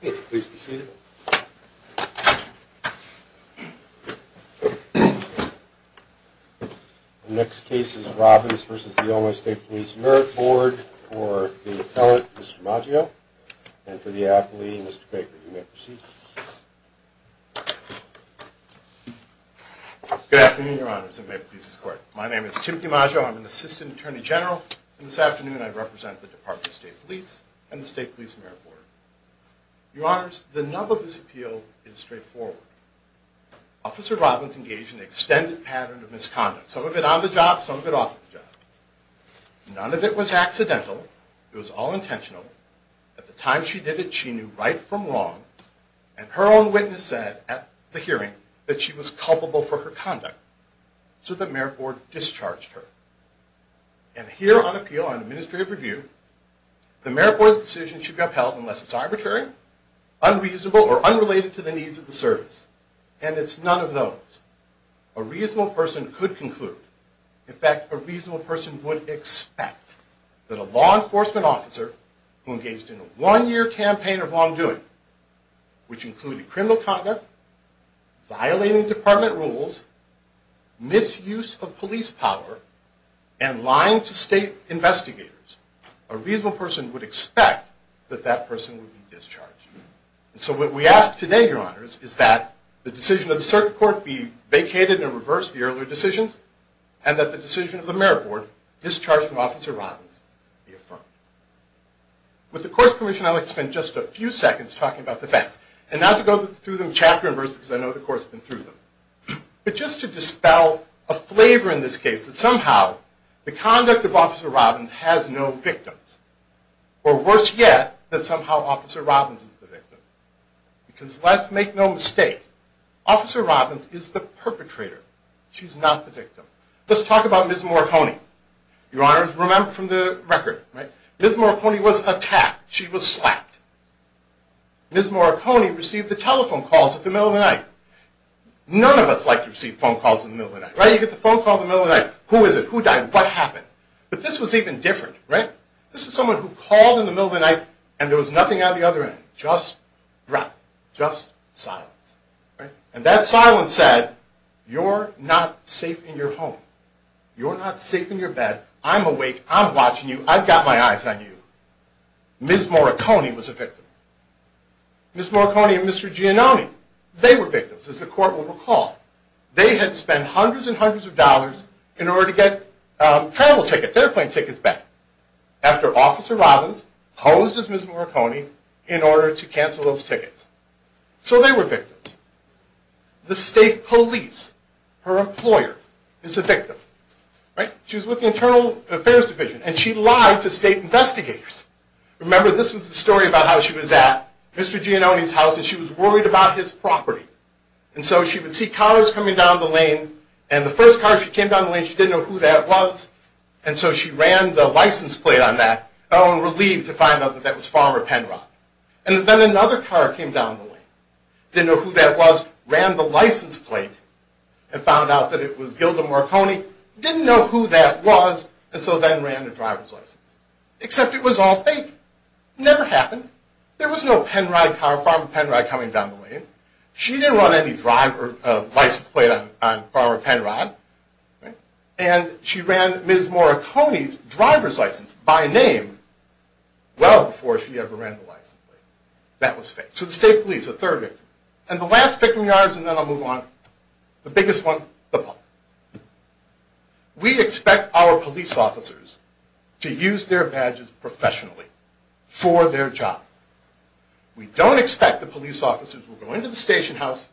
Please be seated. The next case is Robbins v. Illinois State Police Merit Board for the appellant, Mr. Maggio, and for the appellee, Mr. Baker. You may proceed. Good afternoon, your honors, and may it please the court. My name is Timothy Maggio. I'm an assistant attorney general, and this afternoon I represent the Department of State Police and the State Police Merit Board. Your honors, the nub of this appeal is straightforward. Officer Robbins engaged in an extended pattern of misconduct, some of it on the job, some of it off the job. None of it was accidental. It was all intentional. At the time she did it, she knew right from wrong, and her own witness said at the hearing that she was culpable for her conduct. So the Merit Board discharged her. And here on appeal, on administrative review, the Merit Board's decision should be upheld unless it's arbitrary, unreasonable, or unrelated to the needs of the service. And it's none of those. A reasonable person could conclude, in fact, a reasonable person would expect that a law enforcement officer who engaged in a one-year campaign of wrongdoing, which included criminal conduct, violating department rules, misuse of police power, and lying to state investigators, a reasonable person would expect that that person would be discharged. And so what we ask today, your honors, is that the decision of the circuit court be vacated and reversed, the earlier decisions, and that the decision of the Merit Board, discharged from Officer Robbins, be affirmed. With the court's permission, I'd like to spend just a few seconds talking about the facts. And not to go through them chapter and verse, because I know the court's been through them. But just to dispel a flavor in this case that somehow the conduct of Officer Robbins has no victims. Or worse yet, that somehow Officer Robbins is the victim. Because let's make no mistake, Officer Robbins is the perpetrator. She's not the victim. Let's talk about Ms. Morricone. Your honors, remember from the record, Ms. Morricone was attacked. She was slapped. Ms. Morricone received the telephone calls in the middle of the night. None of us like to receive phone calls in the middle of the night, right? You get the phone call in the middle of the night. Who is it? Who died? What happened? But this was even different, right? This was someone who called in the middle of the night, and there was nothing on the other end. Just breath. Just silence. And that silence said, you're not safe in your home. You're not safe in your bed. I'm awake. I'm watching you. I've got my eyes on you. Ms. Morricone was a victim. Ms. Morricone and Mr. Giannone, they were victims, as the court will recall. They had spent hundreds and hundreds of dollars in order to get travel tickets, airplane tickets back, after Officer Robbins posed as Ms. Morricone in order to cancel those tickets. So they were victims. The state police, her employer, is a victim. She was with the Internal Affairs Division, and she lied to state investigators. Remember, this was the story about how she was at Mr. Giannone's house, and she was worried about his property. And so she would see cars coming down the lane, and the first car she came down the lane, she didn't know who that was. And so she ran the license plate on that. Oh, and relieved to find out that that was Farmer Penrod. And then another car came down the lane, didn't know who that was, ran the license plate, and found out that it was Gilda Morricone, didn't know who that was, and so then ran the driver's license. Except it was all fake. It never happened. There was no Penrod car, Farmer Penrod, coming down the lane. She didn't run any license plate on Farmer Penrod, and she ran Ms. Morricone's driver's license by name well before she ever ran the license. That was fake. So the state police, the third victim. And the last victim of yours, and then I'll move on, the biggest one, the public. We expect our police officers to use their badges professionally for their job. We don't expect the police officers will go into the station house,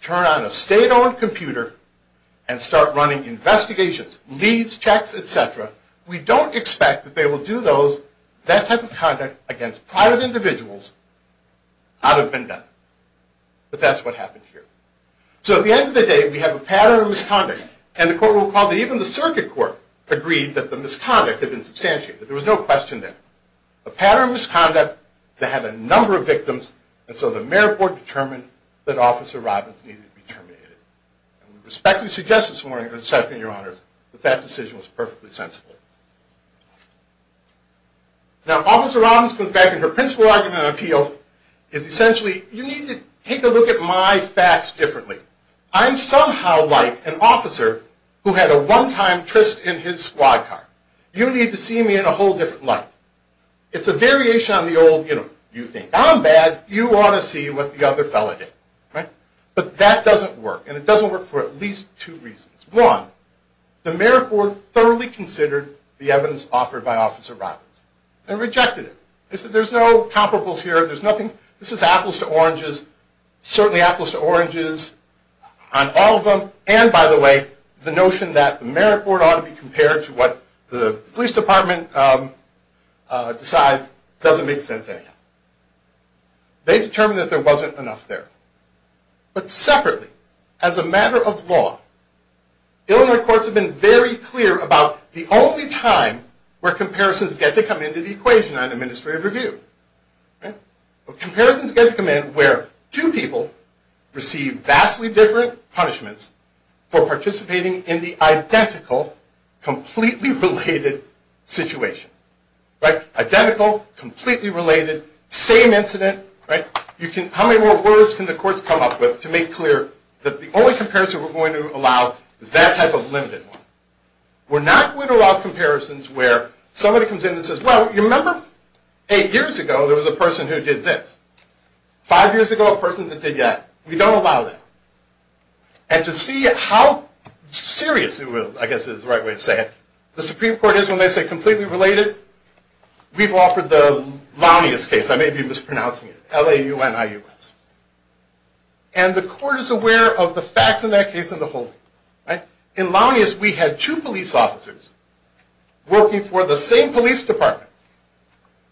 turn on a state-owned computer, and start running investigations, leads, checks, et cetera. We don't expect that they will do that type of conduct against private individuals out of vendetta. But that's what happened here. So at the end of the day, we have a pattern of misconduct. And the court will recall that even the circuit court agreed that the misconduct had been substantiated. There was no question there. A pattern of misconduct that had a number of victims, and so the mayor board determined that Officer Robbins needed to be terminated. And we respectfully suggest this morning, Mr. Chairman and your honors, that that decision was perfectly sensible. Now, Officer Robbins comes back, and her principal argument and appeal is essentially, you need to take a look at my facts differently. I'm somehow like an officer who had a one-time tryst in his squad car. You need to see me in a whole different light. It's a variation on the old, you know, you think I'm bad, you ought to see what the other fellow did. But that doesn't work, and it doesn't work for at least two reasons. One, the mayor board thoroughly considered the evidence offered by Officer Robbins and rejected it. They said there's no comparables here, there's nothing, this is apples to oranges, certainly apples to oranges on all of them, and by the way, the notion that the mayor board ought to be compared to what the police department decides doesn't make sense anymore. They determined that there wasn't enough there. But separately, as a matter of law, Illinois courts have been very clear about the only time where comparisons get to come into the equation on administrative review. Comparisons get to come in where two people receive vastly different punishments for participating in the identical, completely related situation. Identical, completely related, same incident. How many more words can the courts come up with to make clear that the only comparison we're going to allow is that type of limited one? We're not going to allow comparisons where somebody comes in and says, well, you remember eight years ago there was a person who did this. Five years ago, a person that did that. We don't allow that. And to see how serious it was, I guess is the right way to say it, the Supreme Court is, when they say completely related, we've offered the Launius case, I may be mispronouncing it, L-A-U-N-I-U-S. And the court is aware of the facts in that case as a whole. In Launius, we had two police officers working for the same police department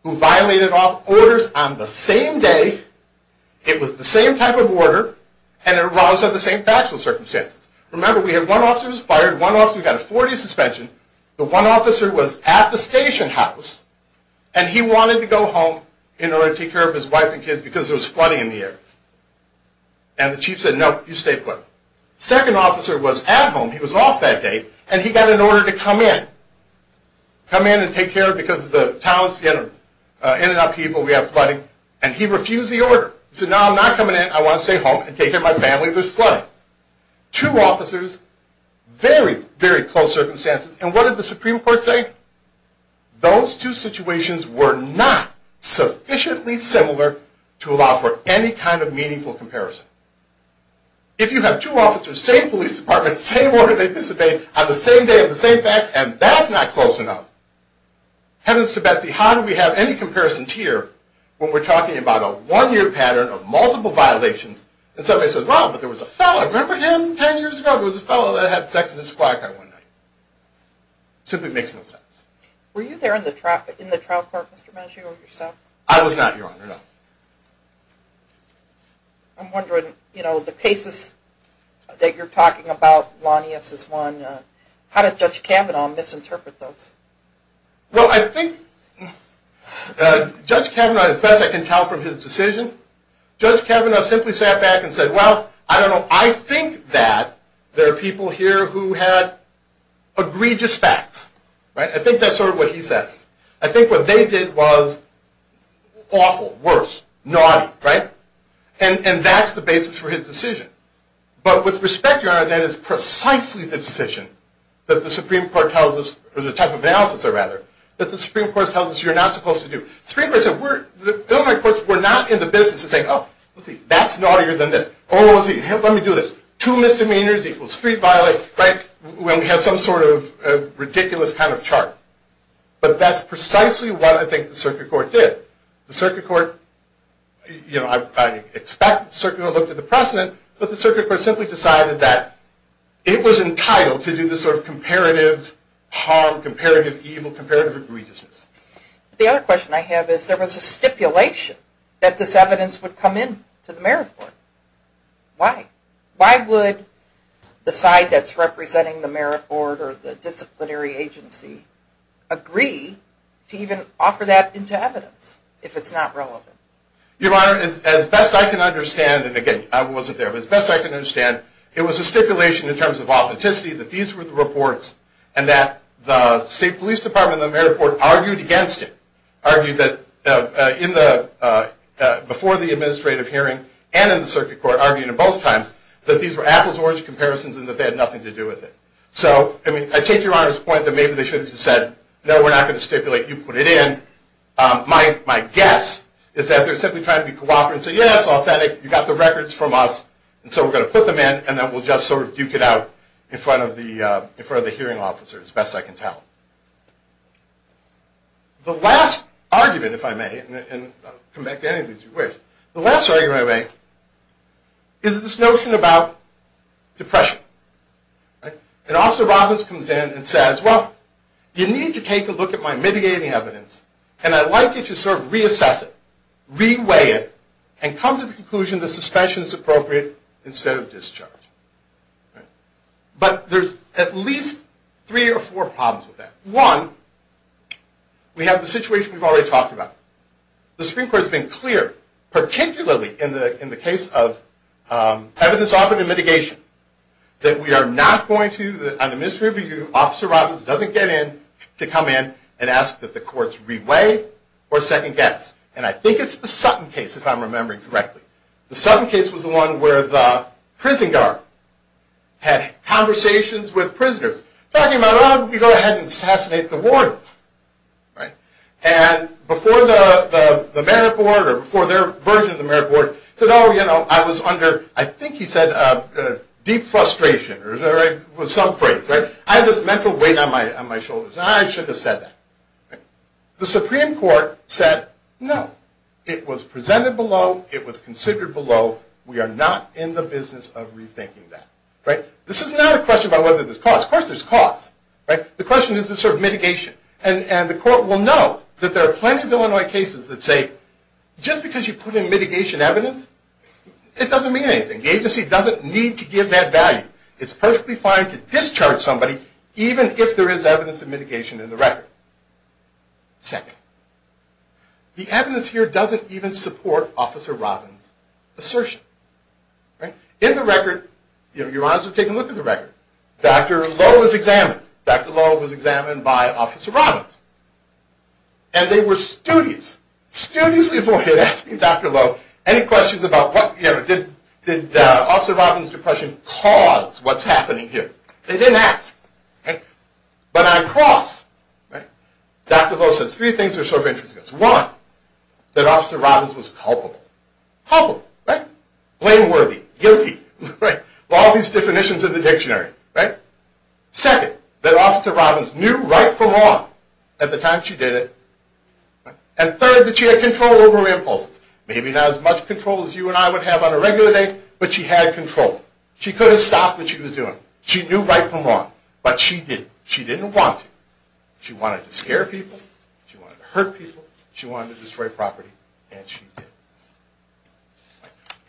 who violated orders on the same day, it was the same type of order, and it arose under the same factual circumstances. Remember, we had one officer who was fired, one officer who got a 40 suspension, the one officer was at the station house, and he wanted to go home in order to take care of his wife and kids because there was flooding in the area. And the chief said, no, you stay put. The second officer was at home, he was off that day, and he got an order to come in, come in and take care of him because the town's in and out of people, we have flooding, and he refused the order. He said, no, I'm not coming in, I want to stay home and take care of my family, there's flooding. Two officers, very, very close circumstances, and what did the Supreme Court say? Those two situations were not sufficiently similar to allow for any kind of meaningful comparison. If you have two officers, same police department, same order, they disobeyed on the same day, the same facts, and that's not close enough. Heavens to Betsy, how do we have any comparisons here when we're talking about a one-year pattern of multiple violations and somebody says, well, but there was a fellow, remember him 10 years ago? There was a fellow that had sex with this black guy one night. It simply makes no sense. Were you there in the trial court, Mr. Mancino, yourself? I was not, Your Honor, no. I'm wondering, you know, the cases that you're talking about, Lanius is one, how did Judge Kavanaugh misinterpret those? Well, I think Judge Kavanaugh, as best I can tell from his decision, Judge Kavanaugh simply sat back and said, well, I don't know, I think that there are people here who had egregious facts, right? I think that's sort of what he says. I think what they did was awful, worse, naughty, right? And that's the basis for his decision. But with respect, Your Honor, that is precisely the decision that the Supreme Court tells us, or the type of analysis, rather, that the Supreme Court tells us you're not supposed to do. The Supreme Court said, the government courts were not in the business of saying, oh, let's see, that's naughtier than this. Oh, let me do this. Two misdemeanors equals three violates, right? When we have some sort of ridiculous kind of chart. But that's precisely what I think the circuit court did. The circuit court, you know, I expect the circuit court looked at the precedent, but the circuit court simply decided that it was entitled to do this sort of comparative harm, comparative evil, comparative egregiousness. The other question I have is, there was a stipulation that this evidence would come in to the Merit Board. Why? Why would the side that's representing the Merit Board or the disciplinary agency agree to even offer that into evidence if it's not relevant? Your Honor, as best I can understand, and again, I wasn't there, but as best I can understand, it was a stipulation in terms of authenticity that these were the reports and that the State Police Department and the Merit Board argued against it, argued that before the administrative hearing and in the circuit court, argued in both times that these were apples to oranges comparisons and that they had nothing to do with it. So, I mean, I take Your Honor's point that maybe they should have just said, no, we're not going to stipulate. You put it in. My guess is that they're simply trying to be cooperative and say, yeah, that's authentic. You got the records from us, and so we're going to put them in, and then we'll just sort of duke it out in front of the hearing officers, as best I can tell. The last argument, if I may, and I'll come back to any of these if you wish, the last argument I make is this notion about depression. And Officer Robbins comes in and says, well, you need to take a look at my mitigating evidence, and I'd like you to sort of reassess it, reweigh it, and come to the conclusion that suspension is appropriate instead of discharge. But there's at least three or four problems with that. One, we have the situation we've already talked about. The Supreme Court has been clear, particularly in the case of evidence offered in mitigation, that we are not going to, under misreview, Officer Robbins doesn't get in to come in and ask that the courts reweigh or second guess. And I think it's the Sutton case, if I'm remembering correctly. The Sutton case was the one where the prison guard had conversations with prisoners, talking about, oh, we go ahead and assassinate the warden. And before the merit board, or before their version of the merit board, said, oh, you know, I was under, I think he said, deep frustration, or some phrase. I had this mental weight on my shoulders, and I shouldn't have said that. The Supreme Court said, no. It was presented below. It was considered below. We are not in the business of rethinking that. This is not a question about whether there's cause. Of course there's cause. The question is this sort of mitigation. And the court will know that there are plenty of Illinois cases that say, just because you put in mitigation evidence, it doesn't mean anything. The agency doesn't need to give that value. It's perfectly fine to discharge somebody, even if there is evidence of mitigation in the record. Second, the evidence here doesn't even support Officer Robbins' assertion. In the record, your honors have taken a look at the record. Dr. Lowe was examined. Dr. Lowe was examined by Officer Robbins. And they were studious. Studiously avoided asking Dr. Lowe any questions about what, you know, did Officer Robbins' depression cause what's happening here? They didn't ask. But on cross, Dr. Lowe says three things that are sort of interesting to us. One, that Officer Robbins was culpable. Culpable, right? Blameworthy, guilty, right? All these definitions in the dictionary, right? Second, that Officer Robbins knew right from wrong at the time she did it. And third, that she had control over her impulses. Maybe not as much control as you and I would have on a regular day, but she had control. She could have stopped what she was doing. She knew right from wrong. But she didn't. She didn't want to. She wanted to scare people. She wanted to hurt people. She wanted to destroy property. And she did.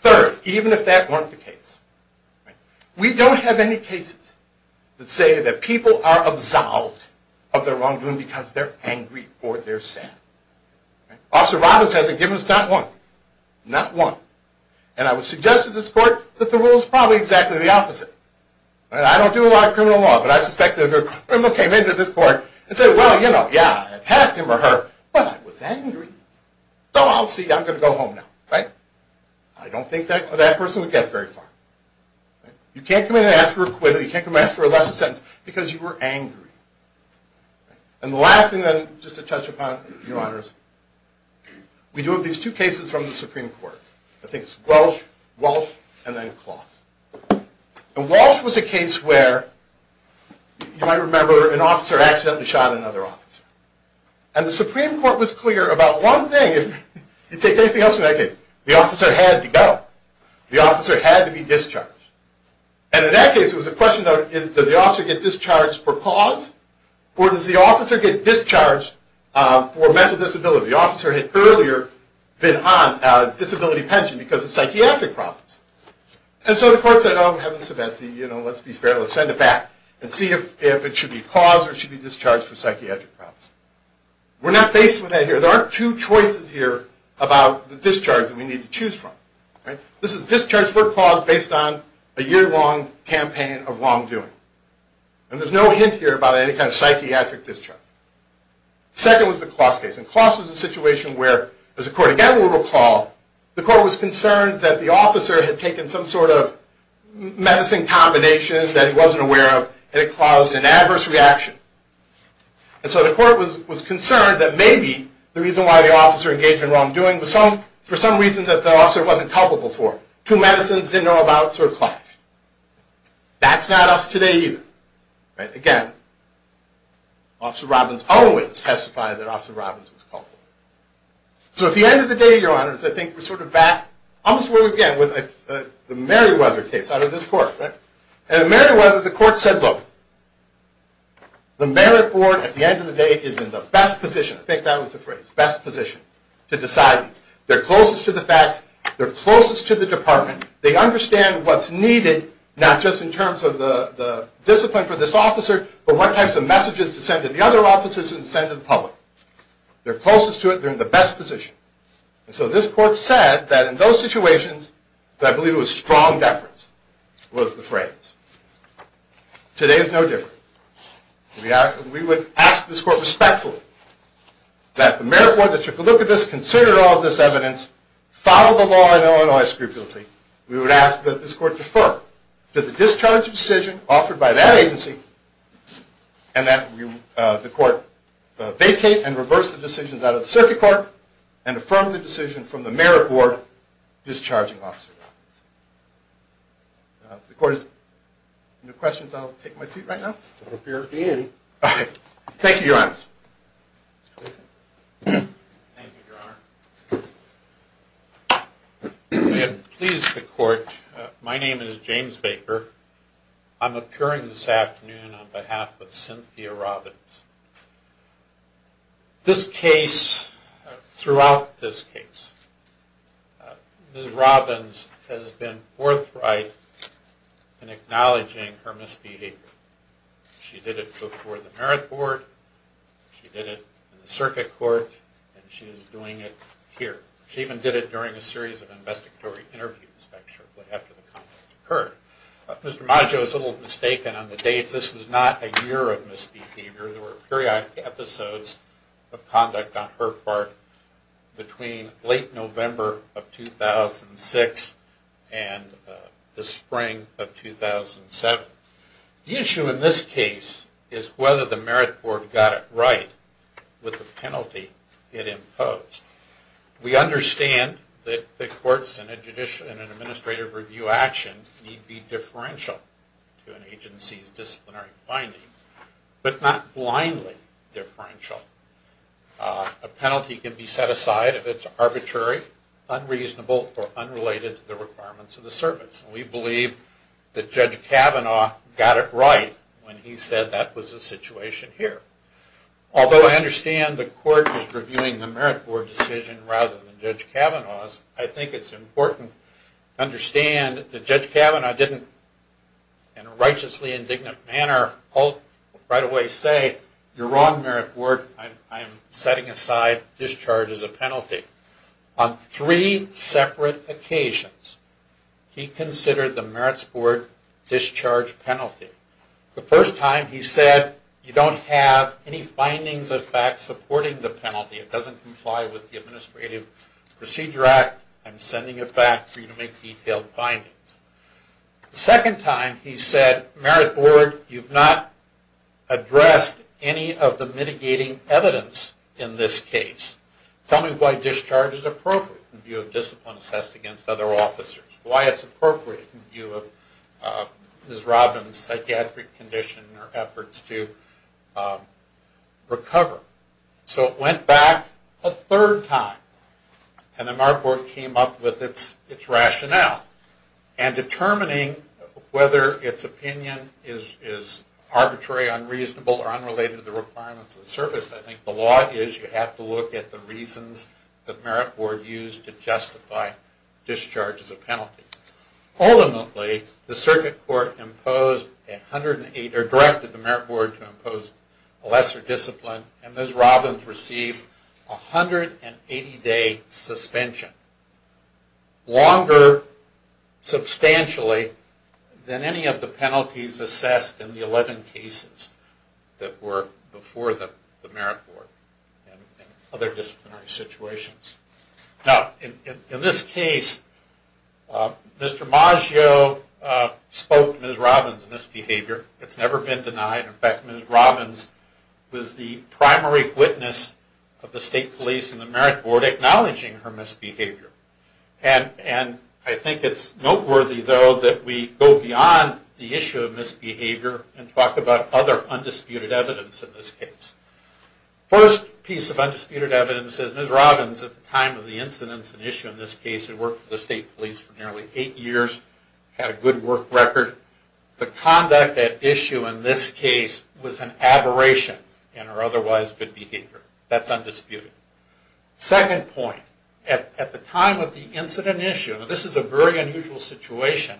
Third, even if that weren't the case. We don't have any cases that say that people are absolved of their wrongdoing because they're angry or they're sad. Officer Robbins hasn't given us not one. Not one. And I would suggest to this court that the rule is probably exactly the opposite. I don't do a lot of criminal law, but I suspect that if a criminal came into this court and said, well, you know, yeah, I attacked him or her, but I was angry. So I'll see you. I'm going to go home now, right? I don't think that person would get very far. You can't come in and ask for acquittal. You can't come in and ask for a lesser sentence because you were angry. And the last thing, then, just to touch upon, Your Honors, we do have these two cases from the Supreme Court. I think it's Walsh, Walsh, and then Kloss. And Walsh was a case where, you might remember, an officer accidentally shot another officer. And the Supreme Court was clear about one thing. If you take anything else from that case, the officer had to go. The officer had to be discharged. And in that case, it was a question, though, does the officer get discharged for cause, or does the officer get discharged for mental disability? The officer had earlier been on disability pension because of psychiatric problems. And so the court said, oh, heaven forbid, let's be fair, let's send it back and see if it should be cause or it should be discharge for psychiatric problems. We're not faced with that here. There aren't two choices here about the discharge that we need to choose from. This is discharge for cause based on a year-long campaign of wrongdoing. And there's no hint here about any kind of psychiatric discharge. Second was the Kloss case. And Kloss was a situation where, as the court, again, will recall, the court was concerned that the officer had taken some sort of medicine combination that he wasn't aware of, and it caused an adverse reaction. And so the court was concerned that maybe the reason why the officer engaged in wrongdoing was for some reason that the officer wasn't culpable for it. Two medicines, didn't know about, sort of clash. That's not us today either. Again, Officer Robbins always testified that Officer Robbins was culpable. So at the end of the day, Your Honors, I think we're sort of back almost where we've been with the Merriweather case out of this court. And at Merriweather, the court said, look, the merit board, at the end of the day, is in the best position. I think that was the phrase. Best position to decide these. They're closest to the facts. They're closest to the department. They understand what's needed, not just in terms of the discipline for this officer, but what types of messages to send to the other officers and send to the public. They're closest to it. They're in the best position. And so this court said that in those situations, I believe it was strong deference was the phrase. Today is no different. We would ask this court respectfully that the merit board that took a look at this, considered all of this evidence, follow the law in Illinois scrupulously. We would ask that this court defer to the discharge decision offered by that agency and that the court vacate and reverse the decisions out of the circuit court and affirm the decision from the merit board discharging Officer Robbins. If the court has no questions, I'll take my seat right now. If you're in. All right. Thank you, Your Honor. Thank you, Your Honor. We have pleased the court. My name is James Baker. I'm appearing this afternoon on behalf of Cynthia Robbins. This case, throughout this case, Ms. Robbins has been forthright in acknowledging her misbehavior. She did it before the merit board. She did it in the circuit court. And she is doing it here. She even did it during a series of investigatory interviews back shortly after the conflict occurred. Mr. Maggio is a little mistaken on the dates. This was not a year of misbehavior. There were periodic episodes of conduct on her part between late November of 2006 and the spring of 2007. The issue in this case is whether the merit board got it right with the penalty it imposed. We understand that the courts in an administrative review action need be differential to an agency's disciplinary finding, but not blindly differential. A penalty can be set aside if it's arbitrary, unreasonable, or unrelated to the requirements of the service. We believe that Judge Kavanaugh got it right when he said that was the situation here. Although I understand the court was reviewing the merit board decision rather than Judge Kavanaugh's, I think it's important to understand that Judge Kavanaugh didn't, in a righteously indignant manner, right away say, you're wrong, merit board, I'm setting aside discharge as a penalty. On three separate occasions, he considered the merits board discharge penalty. The first time he said, you don't have any findings of fact supporting the penalty. It doesn't comply with the Administrative Procedure Act. I'm sending it back for you to make detailed findings. The second time he said, merit board, you've not addressed any of the mitigating evidence in this case. Tell me why discharge is appropriate in view of discipline assessed against other officers. Why it's appropriate in view of Ms. Robbins' psychiatric condition and her efforts to recover. So it went back a third time. And the merit board came up with its rationale. And determining whether its opinion is arbitrary, unreasonable, or unrelated to the requirements of the service, I think the law is you have to look at the reasons the merit board used to justify discharge as a penalty. Ultimately, the circuit court imposed, or directed the merit board to impose a lesser discipline, and Ms. Robbins received a 180-day suspension. Longer substantially than any of the penalties assessed in the 11 cases that were before the merit board and other disciplinary situations. Now, in this case, Mr. Maggio spoke to Ms. Robbins' misbehavior. It's never been denied. In fact, Ms. Robbins was the primary witness of the state police and the merit board acknowledging her misbehavior. And I think it's noteworthy, though, that we go beyond the issue of misbehavior and talk about other undisputed evidence in this case. First piece of undisputed evidence is Ms. Robbins, at the time of the incidents and issue in this case, had worked for the state police for nearly eight years, had a good work record. The conduct at issue in this case was an aberration in her otherwise good behavior. That's undisputed. Second point, at the time of the incident and issue, and this is a very unusual situation,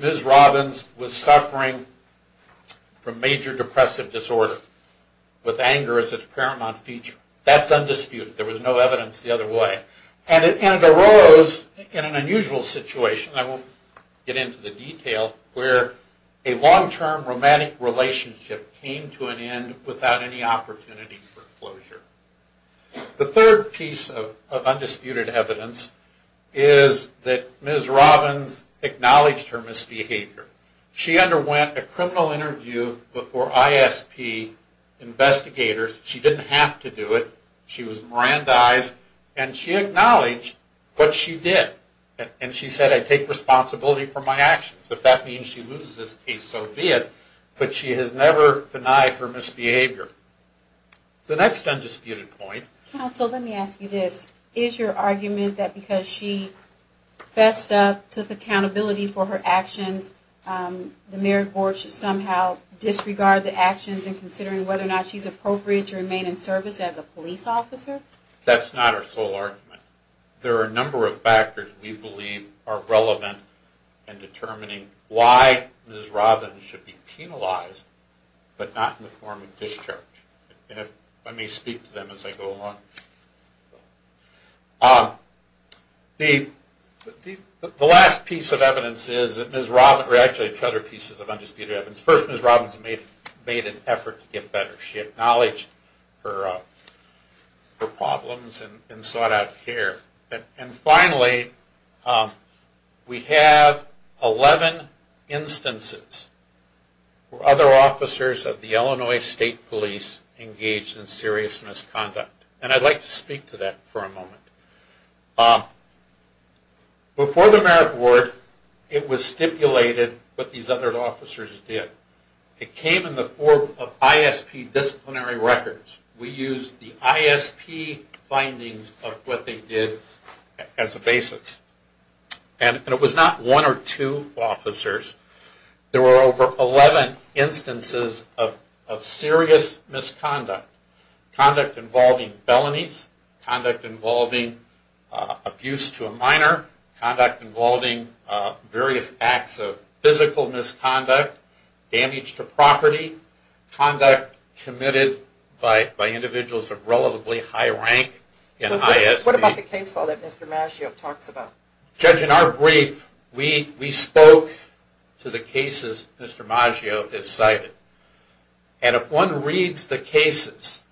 Ms. Robbins was suffering from major depressive disorder with anger as its paramount feature. That's undisputed. There was no evidence the other way. And it arose in an unusual situation, I won't get into the detail, where a long-term romantic relationship came to an end without any opportunity for closure. The third piece of undisputed evidence is that Ms. Robbins acknowledged her misbehavior. She underwent a criminal interview before ISP investigators. She didn't have to do it. She was Mirandized, and she acknowledged what she did. And she said, I take responsibility for my actions. If that means she loses this case, so be it. But she has never denied her misbehavior. The next undisputed point. Counsel, let me ask you this. Is your argument that because she fessed up, took accountability for her actions, the merit board should somehow disregard the actions in considering whether or not she's appropriate to remain in service as a police officer? That's not our sole argument. There are a number of factors we believe are relevant in determining why Ms. Robbins should be penalized, but not in the form of discharge. And if I may speak to them as I go along. The last piece of evidence is that Ms. Robbins, or actually two other pieces of undisputed evidence. First, Ms. Robbins made an effort to get better. She acknowledged her problems and sought out care. And finally, we have 11 instances where other officers of the Illinois State Police engaged in serious misconduct. And I'd like to speak to that for a moment. Before the merit board, it was stipulated what these other officers did. It came in the form of ISP disciplinary records. We used the ISP findings of what they did as a basis. And it was not one or two officers. There were over 11 instances of serious misconduct. Conduct involving felonies, conduct involving abuse to a minor, conduct involving various acts of physical misconduct, damage to property, conduct committed by individuals of relatively high rank in ISP. What about the case law that Mr. Maggio talks about? Judge, in our brief, we spoke to the cases Mr. Maggio has cited. And if one reads the cases,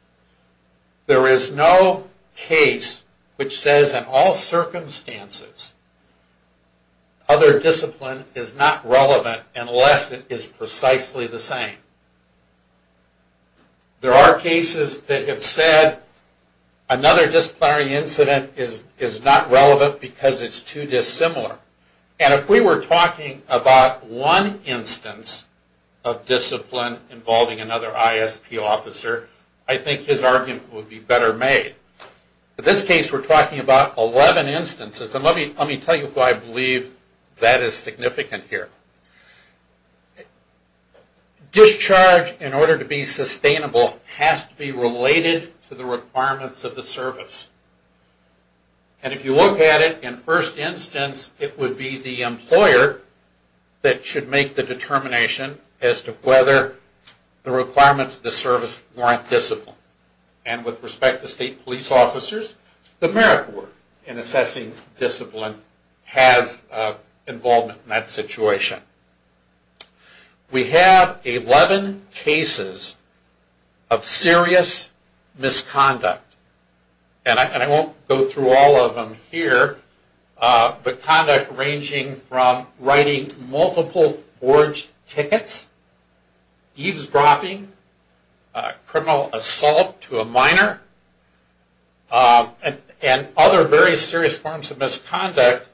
there is no case which says in all circumstances, other discipline is not relevant unless it is precisely the same. There are cases that have said another disciplinary incident is not relevant because it's too dissimilar. And if we were talking about one instance of discipline involving another ISP officer, I think his argument would be better made. In this case, we're talking about 11 instances. And let me tell you why I believe that is significant here. Discharge, in order to be sustainable, has to be related to the requirements of the service. And if you look at it, in first instance, it would be the employer that should make the determination as to whether the requirements of the service warrant discipline. And with respect to state police officers, the Merit Board, in assessing discipline, has involvement in that situation. We have 11 cases of serious misconduct. And I won't go through all of them here, but conduct ranging from writing multiple forged tickets, eavesdropping, criminal assault to a minor, and other very serious forms of misconduct.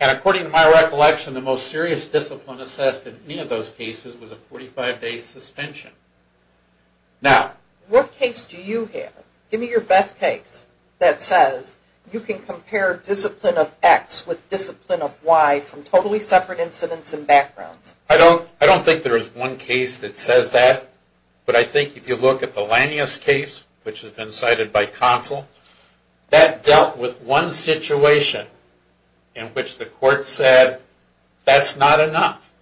And according to my recollection, the most serious discipline assessed in any of those cases was a 45-day suspension. Now, what case do you have? Give me your best case that says you can compare discipline of X with discipline of Y from totally separate incidents and backgrounds. I don't think there is one case that says that. But I think if you look at the Lanius case, which has been cited by counsel, that dealt with one situation in which the court said, that's not enough.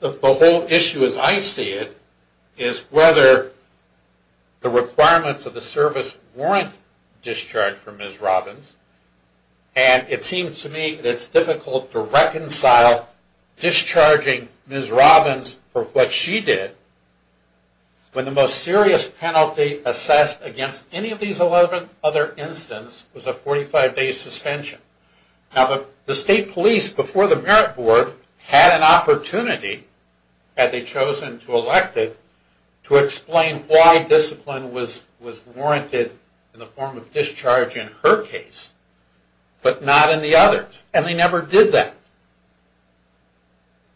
The whole issue, as I see it, is whether the requirements of the service warrant discharge for Ms. Robbins. And it seems to me that it's difficult to reconcile discharging Ms. Robbins for what she did when the most serious penalty assessed against any of these 11 other incidents was a 45-day suspension. Now, the state police, before the merit board, had an opportunity, had they chosen to elect it, to explain why discipline was warranted in the form of discharge in her case, but not in the others. And they never did that.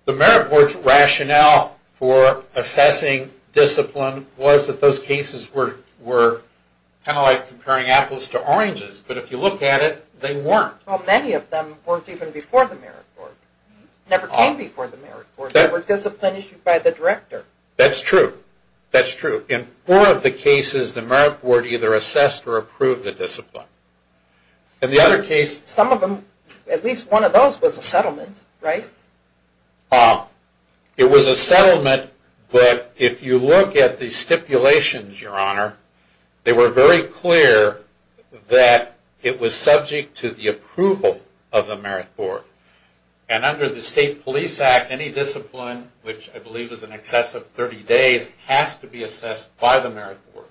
The merit board's rationale for assessing discipline was that those cases were kind of like comparing apples to oranges. But if you look at it, they weren't. Well, many of them weren't even before the merit board. Never came before the merit board. They were disciplines issued by the director. That's true. That's true. In four of the cases, the merit board either assessed or approved the discipline. In the other case... Some of them, at least one of those was a settlement, right? It was a settlement, but if you look at the stipulations, Your Honor, they were very clear that it was subject to the approval of the merit board. And under the State Police Act, any discipline, which I believe is in excess of 30 days, has to be assessed by the merit board.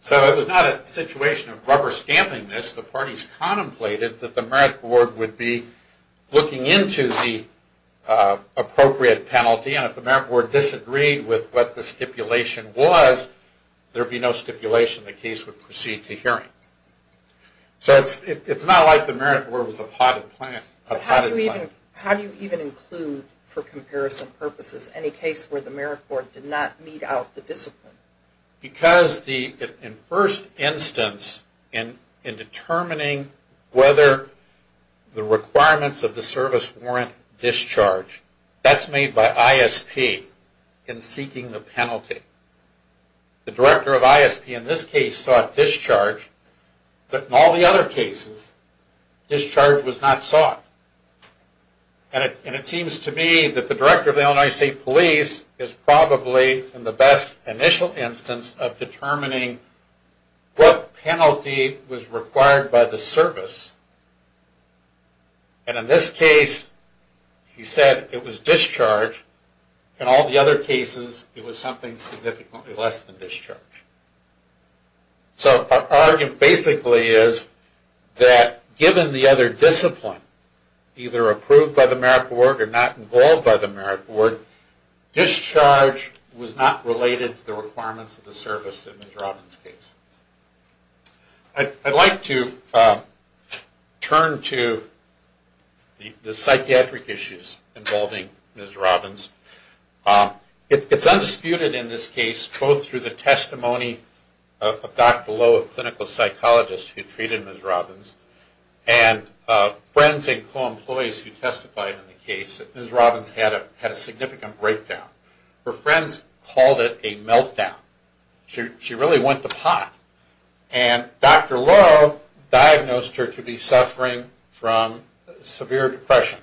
So it was not a situation of rubber stamping this. The parties contemplated that the merit board would be looking into the appropriate penalty, and if the merit board disagreed with what the stipulation was, there would be no stipulation. The case would proceed to hearing. So it's not like the merit board was a potted plant. How do you even include, for comparison purposes, any case where the merit board did not meet out the discipline? Because in first instance, in determining whether the requirements of the service warrant discharge, that's made by ISP in seeking the penalty. The director of ISP in this case sought discharge, but in all the other cases, discharge was not sought. And it seems to me that the director of the Illinois State Police is probably in the best initial instance of determining what penalty was required by the service. And in this case, he said it was discharge. In all the other cases, it was something significantly less than discharge. So our argument basically is that given the other discipline, either approved by the merit board or not involved by the merit board, discharge was not related to the requirements of the service in Mr. Robbins' case. I'd like to turn to the psychiatric issues involving Ms. Robbins. It's undisputed in this case, both through the testimony of Dr. Lowe, a clinical psychologist who treated Ms. Robbins, and friends and co-employees who testified in the case that Ms. Robbins had a significant breakdown. Her friends called it a meltdown. She really went to pot. And Dr. Lowe diagnosed her to be suffering from severe depression,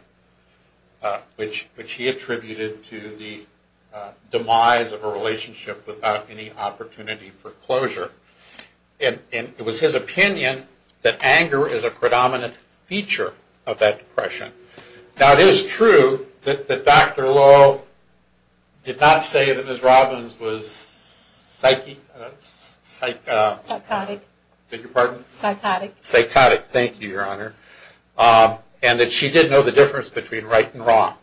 which he attributed to the demise of a relationship without any opportunity for closure. And it was his opinion that anger is a predominant feature of that depression. Now, it is true that Dr. Lowe did not say that Ms. Robbins was psychotic. Thank you, Your Honor. And that she did know the difference between right and wrong.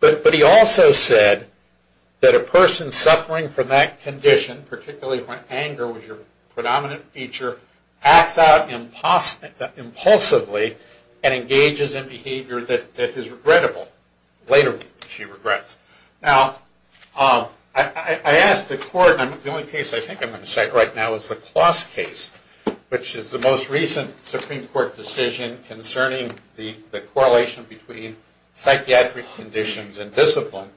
But he also said that a person suffering from that condition, particularly when anger was your predominant feature, acts out impulsively and engages in behavior that is regrettable. Later, she regrets. Now, I asked the court, and the only case I think I'm going to cite right now is the Kloss case, which is the most recent Supreme Court decision concerning the correlation between psychiatric conditions and discipline.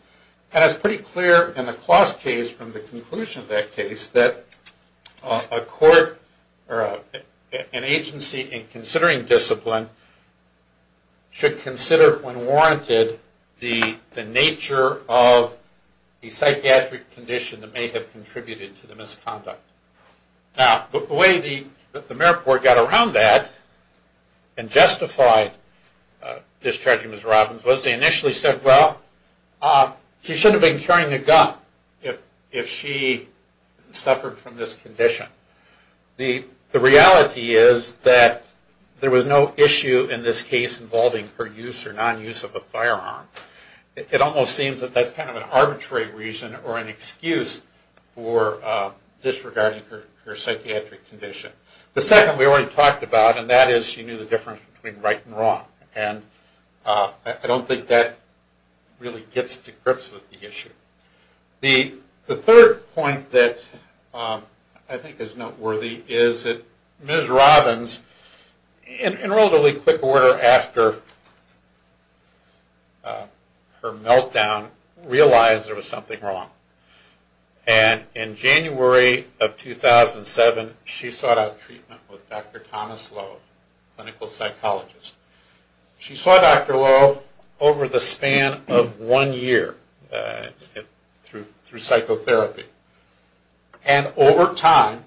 And it's pretty clear in the Kloss case, from the conclusion of that case, that an agency in considering discipline should consider, when warranted, the nature of a psychiatric condition that may have contributed to the misconduct. Now, the way the merit board got around that and justified discharging Ms. Robbins was they initially said, well, she shouldn't have been carrying a gun if she suffered from this condition. The reality is that there was no issue in this case involving her use or non-use of a firearm. It almost seems that that's kind of an arbitrary reason or an excuse for disregarding her psychiatric condition. The second we already talked about, and that is she knew the difference between right and wrong. And I don't think that really gets to grips with the issue. The third point that I think is noteworthy is that Ms. Robbins, in relatively quick order after her meltdown, realized there was something wrong. And in January of 2007, she sought out treatment with Dr. Thomas Lowe, a clinical psychologist. She saw Dr. Lowe over the span of one year through psychotherapy. And over time,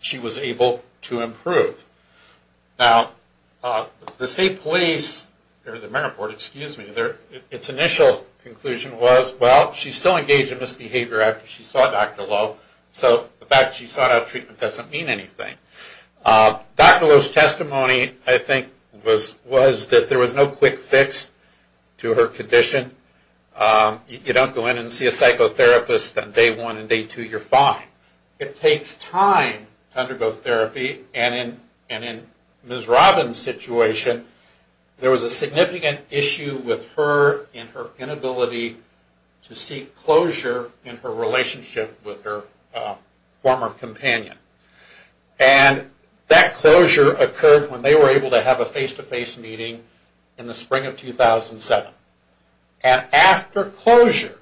she was able to improve. Now, the state police, or the merit board, excuse me, its initial conclusion was, well, she's still engaged in misbehavior after she saw Dr. Lowe, so the fact that she sought out treatment doesn't mean anything. Dr. Lowe's testimony, I think, was that there was no quick fix to her condition. You don't go in and see a psychotherapist on day one and day two, you're fine. It takes time to undergo therapy, and in Ms. Robbins' situation, there was a significant issue with her and her inability to seek closure in her relationship with her former companion. And that closure occurred when they were able to have a face-to-face meeting in the spring of 2007. And after closure,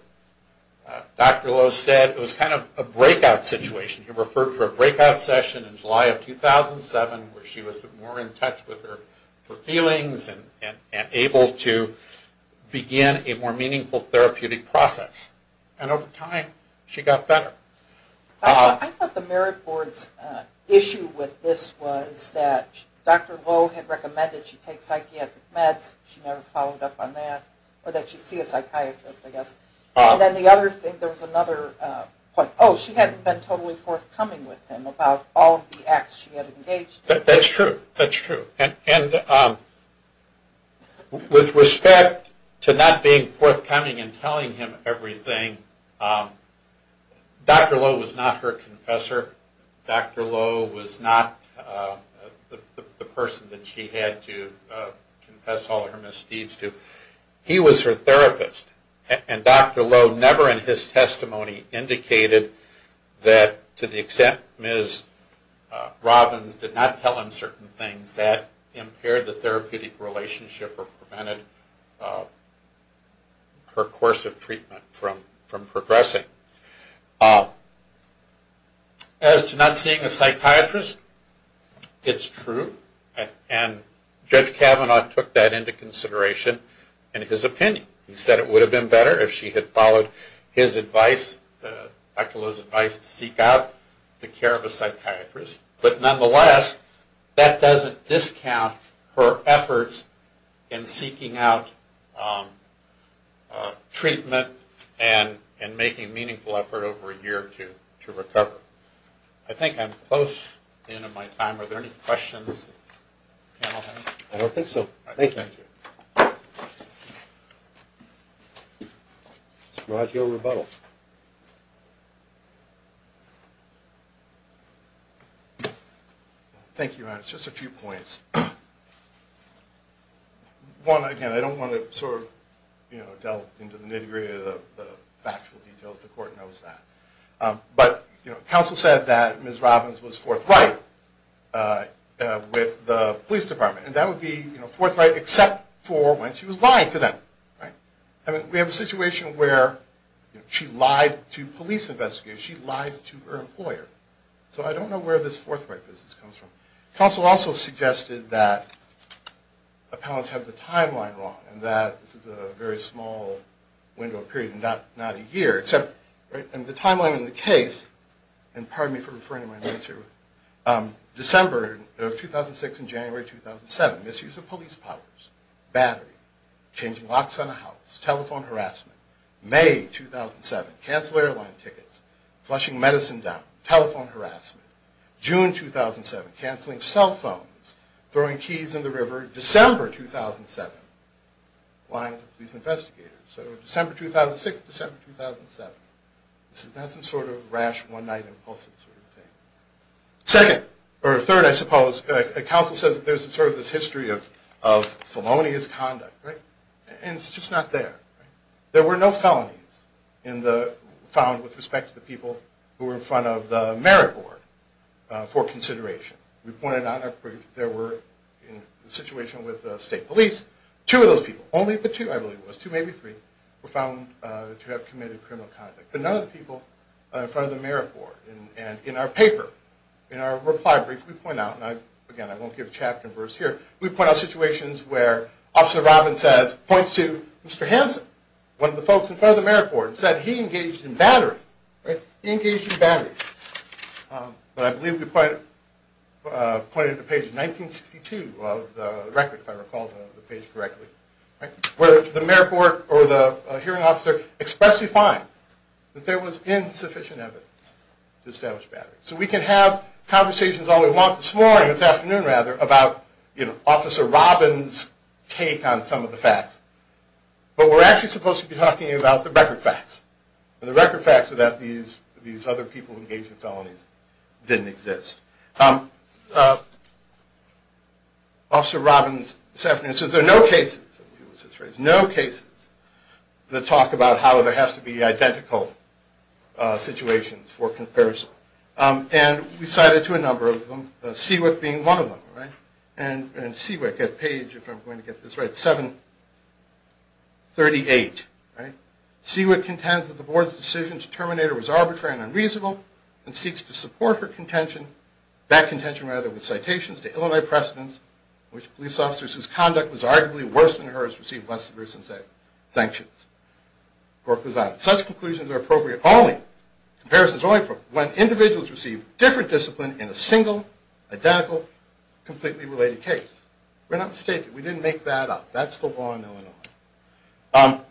Dr. Lowe said it was kind of a breakout situation. He referred to a breakout session in July of 2007 where she was more in touch with her feelings and able to begin a more meaningful therapeutic process. And over time, she got better. I thought the merit board's issue with this was that Dr. Lowe had recommended she take psychiatric meds. She never followed up on that, or that she see a psychiatrist, I guess. And then the other thing, there was another point. Oh, she hadn't been totally forthcoming with him about all of the acts she had engaged in. That's true, that's true. And with respect to not being forthcoming and telling him everything, Dr. Lowe was not her confessor. Dr. Lowe was not the person that she had to confess all of her misdeeds to. He was her therapist. And Dr. Lowe never in his testimony indicated that to the extent Ms. Robbins did not tell him certain things, that impaired the therapeutic relationship or prevented her course of treatment from progressing. As to not seeing a psychiatrist, it's true. And Judge Kavanaugh took that into consideration in his opinion. He said it would have been better if she had followed his advice, Dr. Lowe's advice, to seek out the care of a psychiatrist. But nonetheless, that doesn't discount her efforts in seeking out treatment and making a meaningful effort over a year or two to recover. I think I'm close to the end of my time. Are there any questions? I don't think so. Thank you. Thank you. Mr. Roggio, rebuttal. Thank you, Your Honor. Just a few points. One, again, I don't want to sort of delve into the nitty-gritty of the factual details. The court knows that. But counsel said that Ms. Robbins was forthright with the police department. And that would be forthright except for when she was lying to them. We have a situation where she lied to police investigators. She lied to her employer. So I don't know where this forthright business comes from. Counsel also suggested that appellants have the timeline wrong and that this is a very small window of period, not a year. And the timeline in the case, and pardon me for referring to my notes here, December of 2006 and January 2007. Misuse of police powers. Battery. Changing locks on a house. Telephone harassment. May 2007. Cancel airline tickets. Flushing medicine down. Telephone harassment. June 2007. Canceling cell phones. Throwing keys in the river. December 2007. Lying to police investigators. So December 2006, December 2007. This is not some sort of rash, one-night-impulsive sort of thing. Second, or third, I suppose, counsel says there's sort of this history of felonious conduct, right? And it's just not there. There were no felonies found with respect to the people who were in front of the merit board for consideration. We pointed out in our brief there were, in the situation with state police, two of those people, only but two I believe it was, two, maybe three, were found to have committed criminal conduct. But none of the people in front of the merit board. And in our paper, in our reply brief, we point out, and, again, I won't give chapter and verse here, we point out situations where Officer Robin says, points to Mr. Hanson, one of the folks in front of the merit board, and said he engaged in battery, right? He engaged in battery. But I believe we pointed to page 1962 of the record, if I recall the page correctly, where the merit board or the hearing officer expressly finds that there was insufficient evidence to establish battery. So we can have conversations all we want this morning, this afternoon rather, about Officer Robin's take on some of the facts. But we're actually supposed to be talking about the record facts. And the record facts are that these other people who engaged in felonies didn't exist. Officer Robin, this afternoon, says there are no cases, no cases that talk about how there has to be identical situations for comparison. And we cited to a number of them, Seawick being one of them, right? And Seawick, at page, if I'm going to get this right, 738, right? Seawick contends that the board's decision to terminate her was arbitrary and unreasonable and seeks to support her contention, that contention rather, with citations to Illinois precedents in which police officers whose conduct was arguably worse than hers received less severe sanctions. The report goes on. Such conclusions are appropriate only, comparisons only, for when individuals receive different discipline in a single, identical, completely related case. We're not mistaken. We didn't make that up. That's the law in Illinois.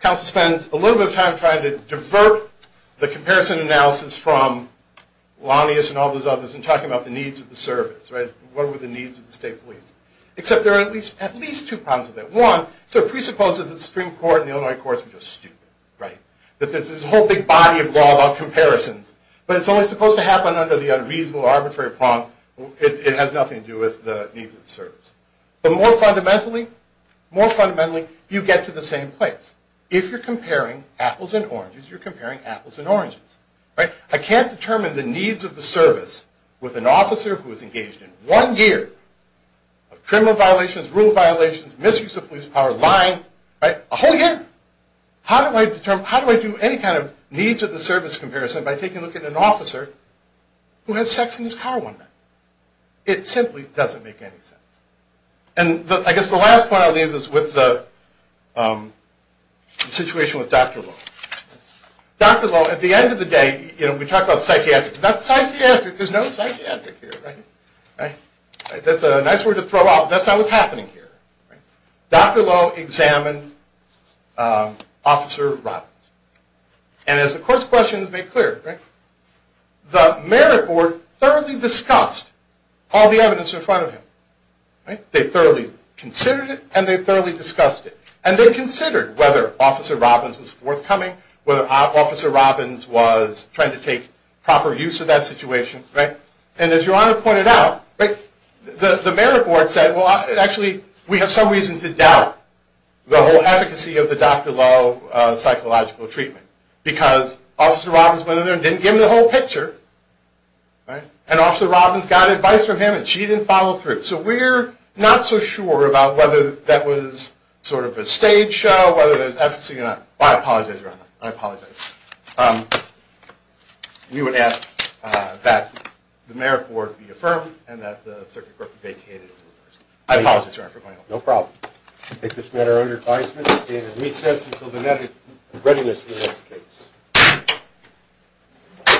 Counsel spends a little bit of time trying to divert the comparison analysis from Lanius and all those others in talking about the needs of the service, right? What were the needs of the state police? Except there are at least two problems with that. One, it presupposes that the Supreme Court and the Illinois courts were just stupid, right? That there's this whole big body of law about comparisons. But it's only supposed to happen under the unreasonable, arbitrary prompt. It has nothing to do with the needs of the service. But more fundamentally, more fundamentally, you get to the same place. If you're comparing apples and oranges, you're comparing apples and oranges, right? I can't determine the needs of the service with an officer who is engaged in one year of criminal violations, rule violations, misuse of police power, lying, right? A whole year. How do I determine, how do I do any kind of needs of the service comparison by taking a look at an officer who had sex in his car one night? It simply doesn't make any sense. And I guess the last point I'll leave is with the situation with Dr. Lowe. Dr. Lowe, at the end of the day, you know, we talk about psychiatric. There's no psychiatric here, right? That's a nice word to throw out, but that's not what's happening here. Dr. Lowe examined Officer Robbins. And as the court's questions make clear, the merit board thoroughly discussed all the evidence in front of him. They thoroughly considered it, and they thoroughly discussed it. And they considered whether Officer Robbins was forthcoming, whether Officer Robbins was trying to take proper use of that situation. And as Your Honor pointed out, the merit board said, Well, actually, we have some reason to doubt the whole efficacy of the Dr. Lowe psychological treatment. Because Officer Robbins went in there and didn't give him the whole picture. And Officer Robbins got advice from him, and she didn't follow through. So we're not so sure about whether that was sort of a stage show, whether there's efficacy or not. I apologize, Your Honor. I apologize. We would ask that the merit board be affirmed, and that the circuit court be vacated. I apologize, Your Honor, for going off. No problem. I take this matter under advisement, and stand at recess until the merit board is ready for the next case.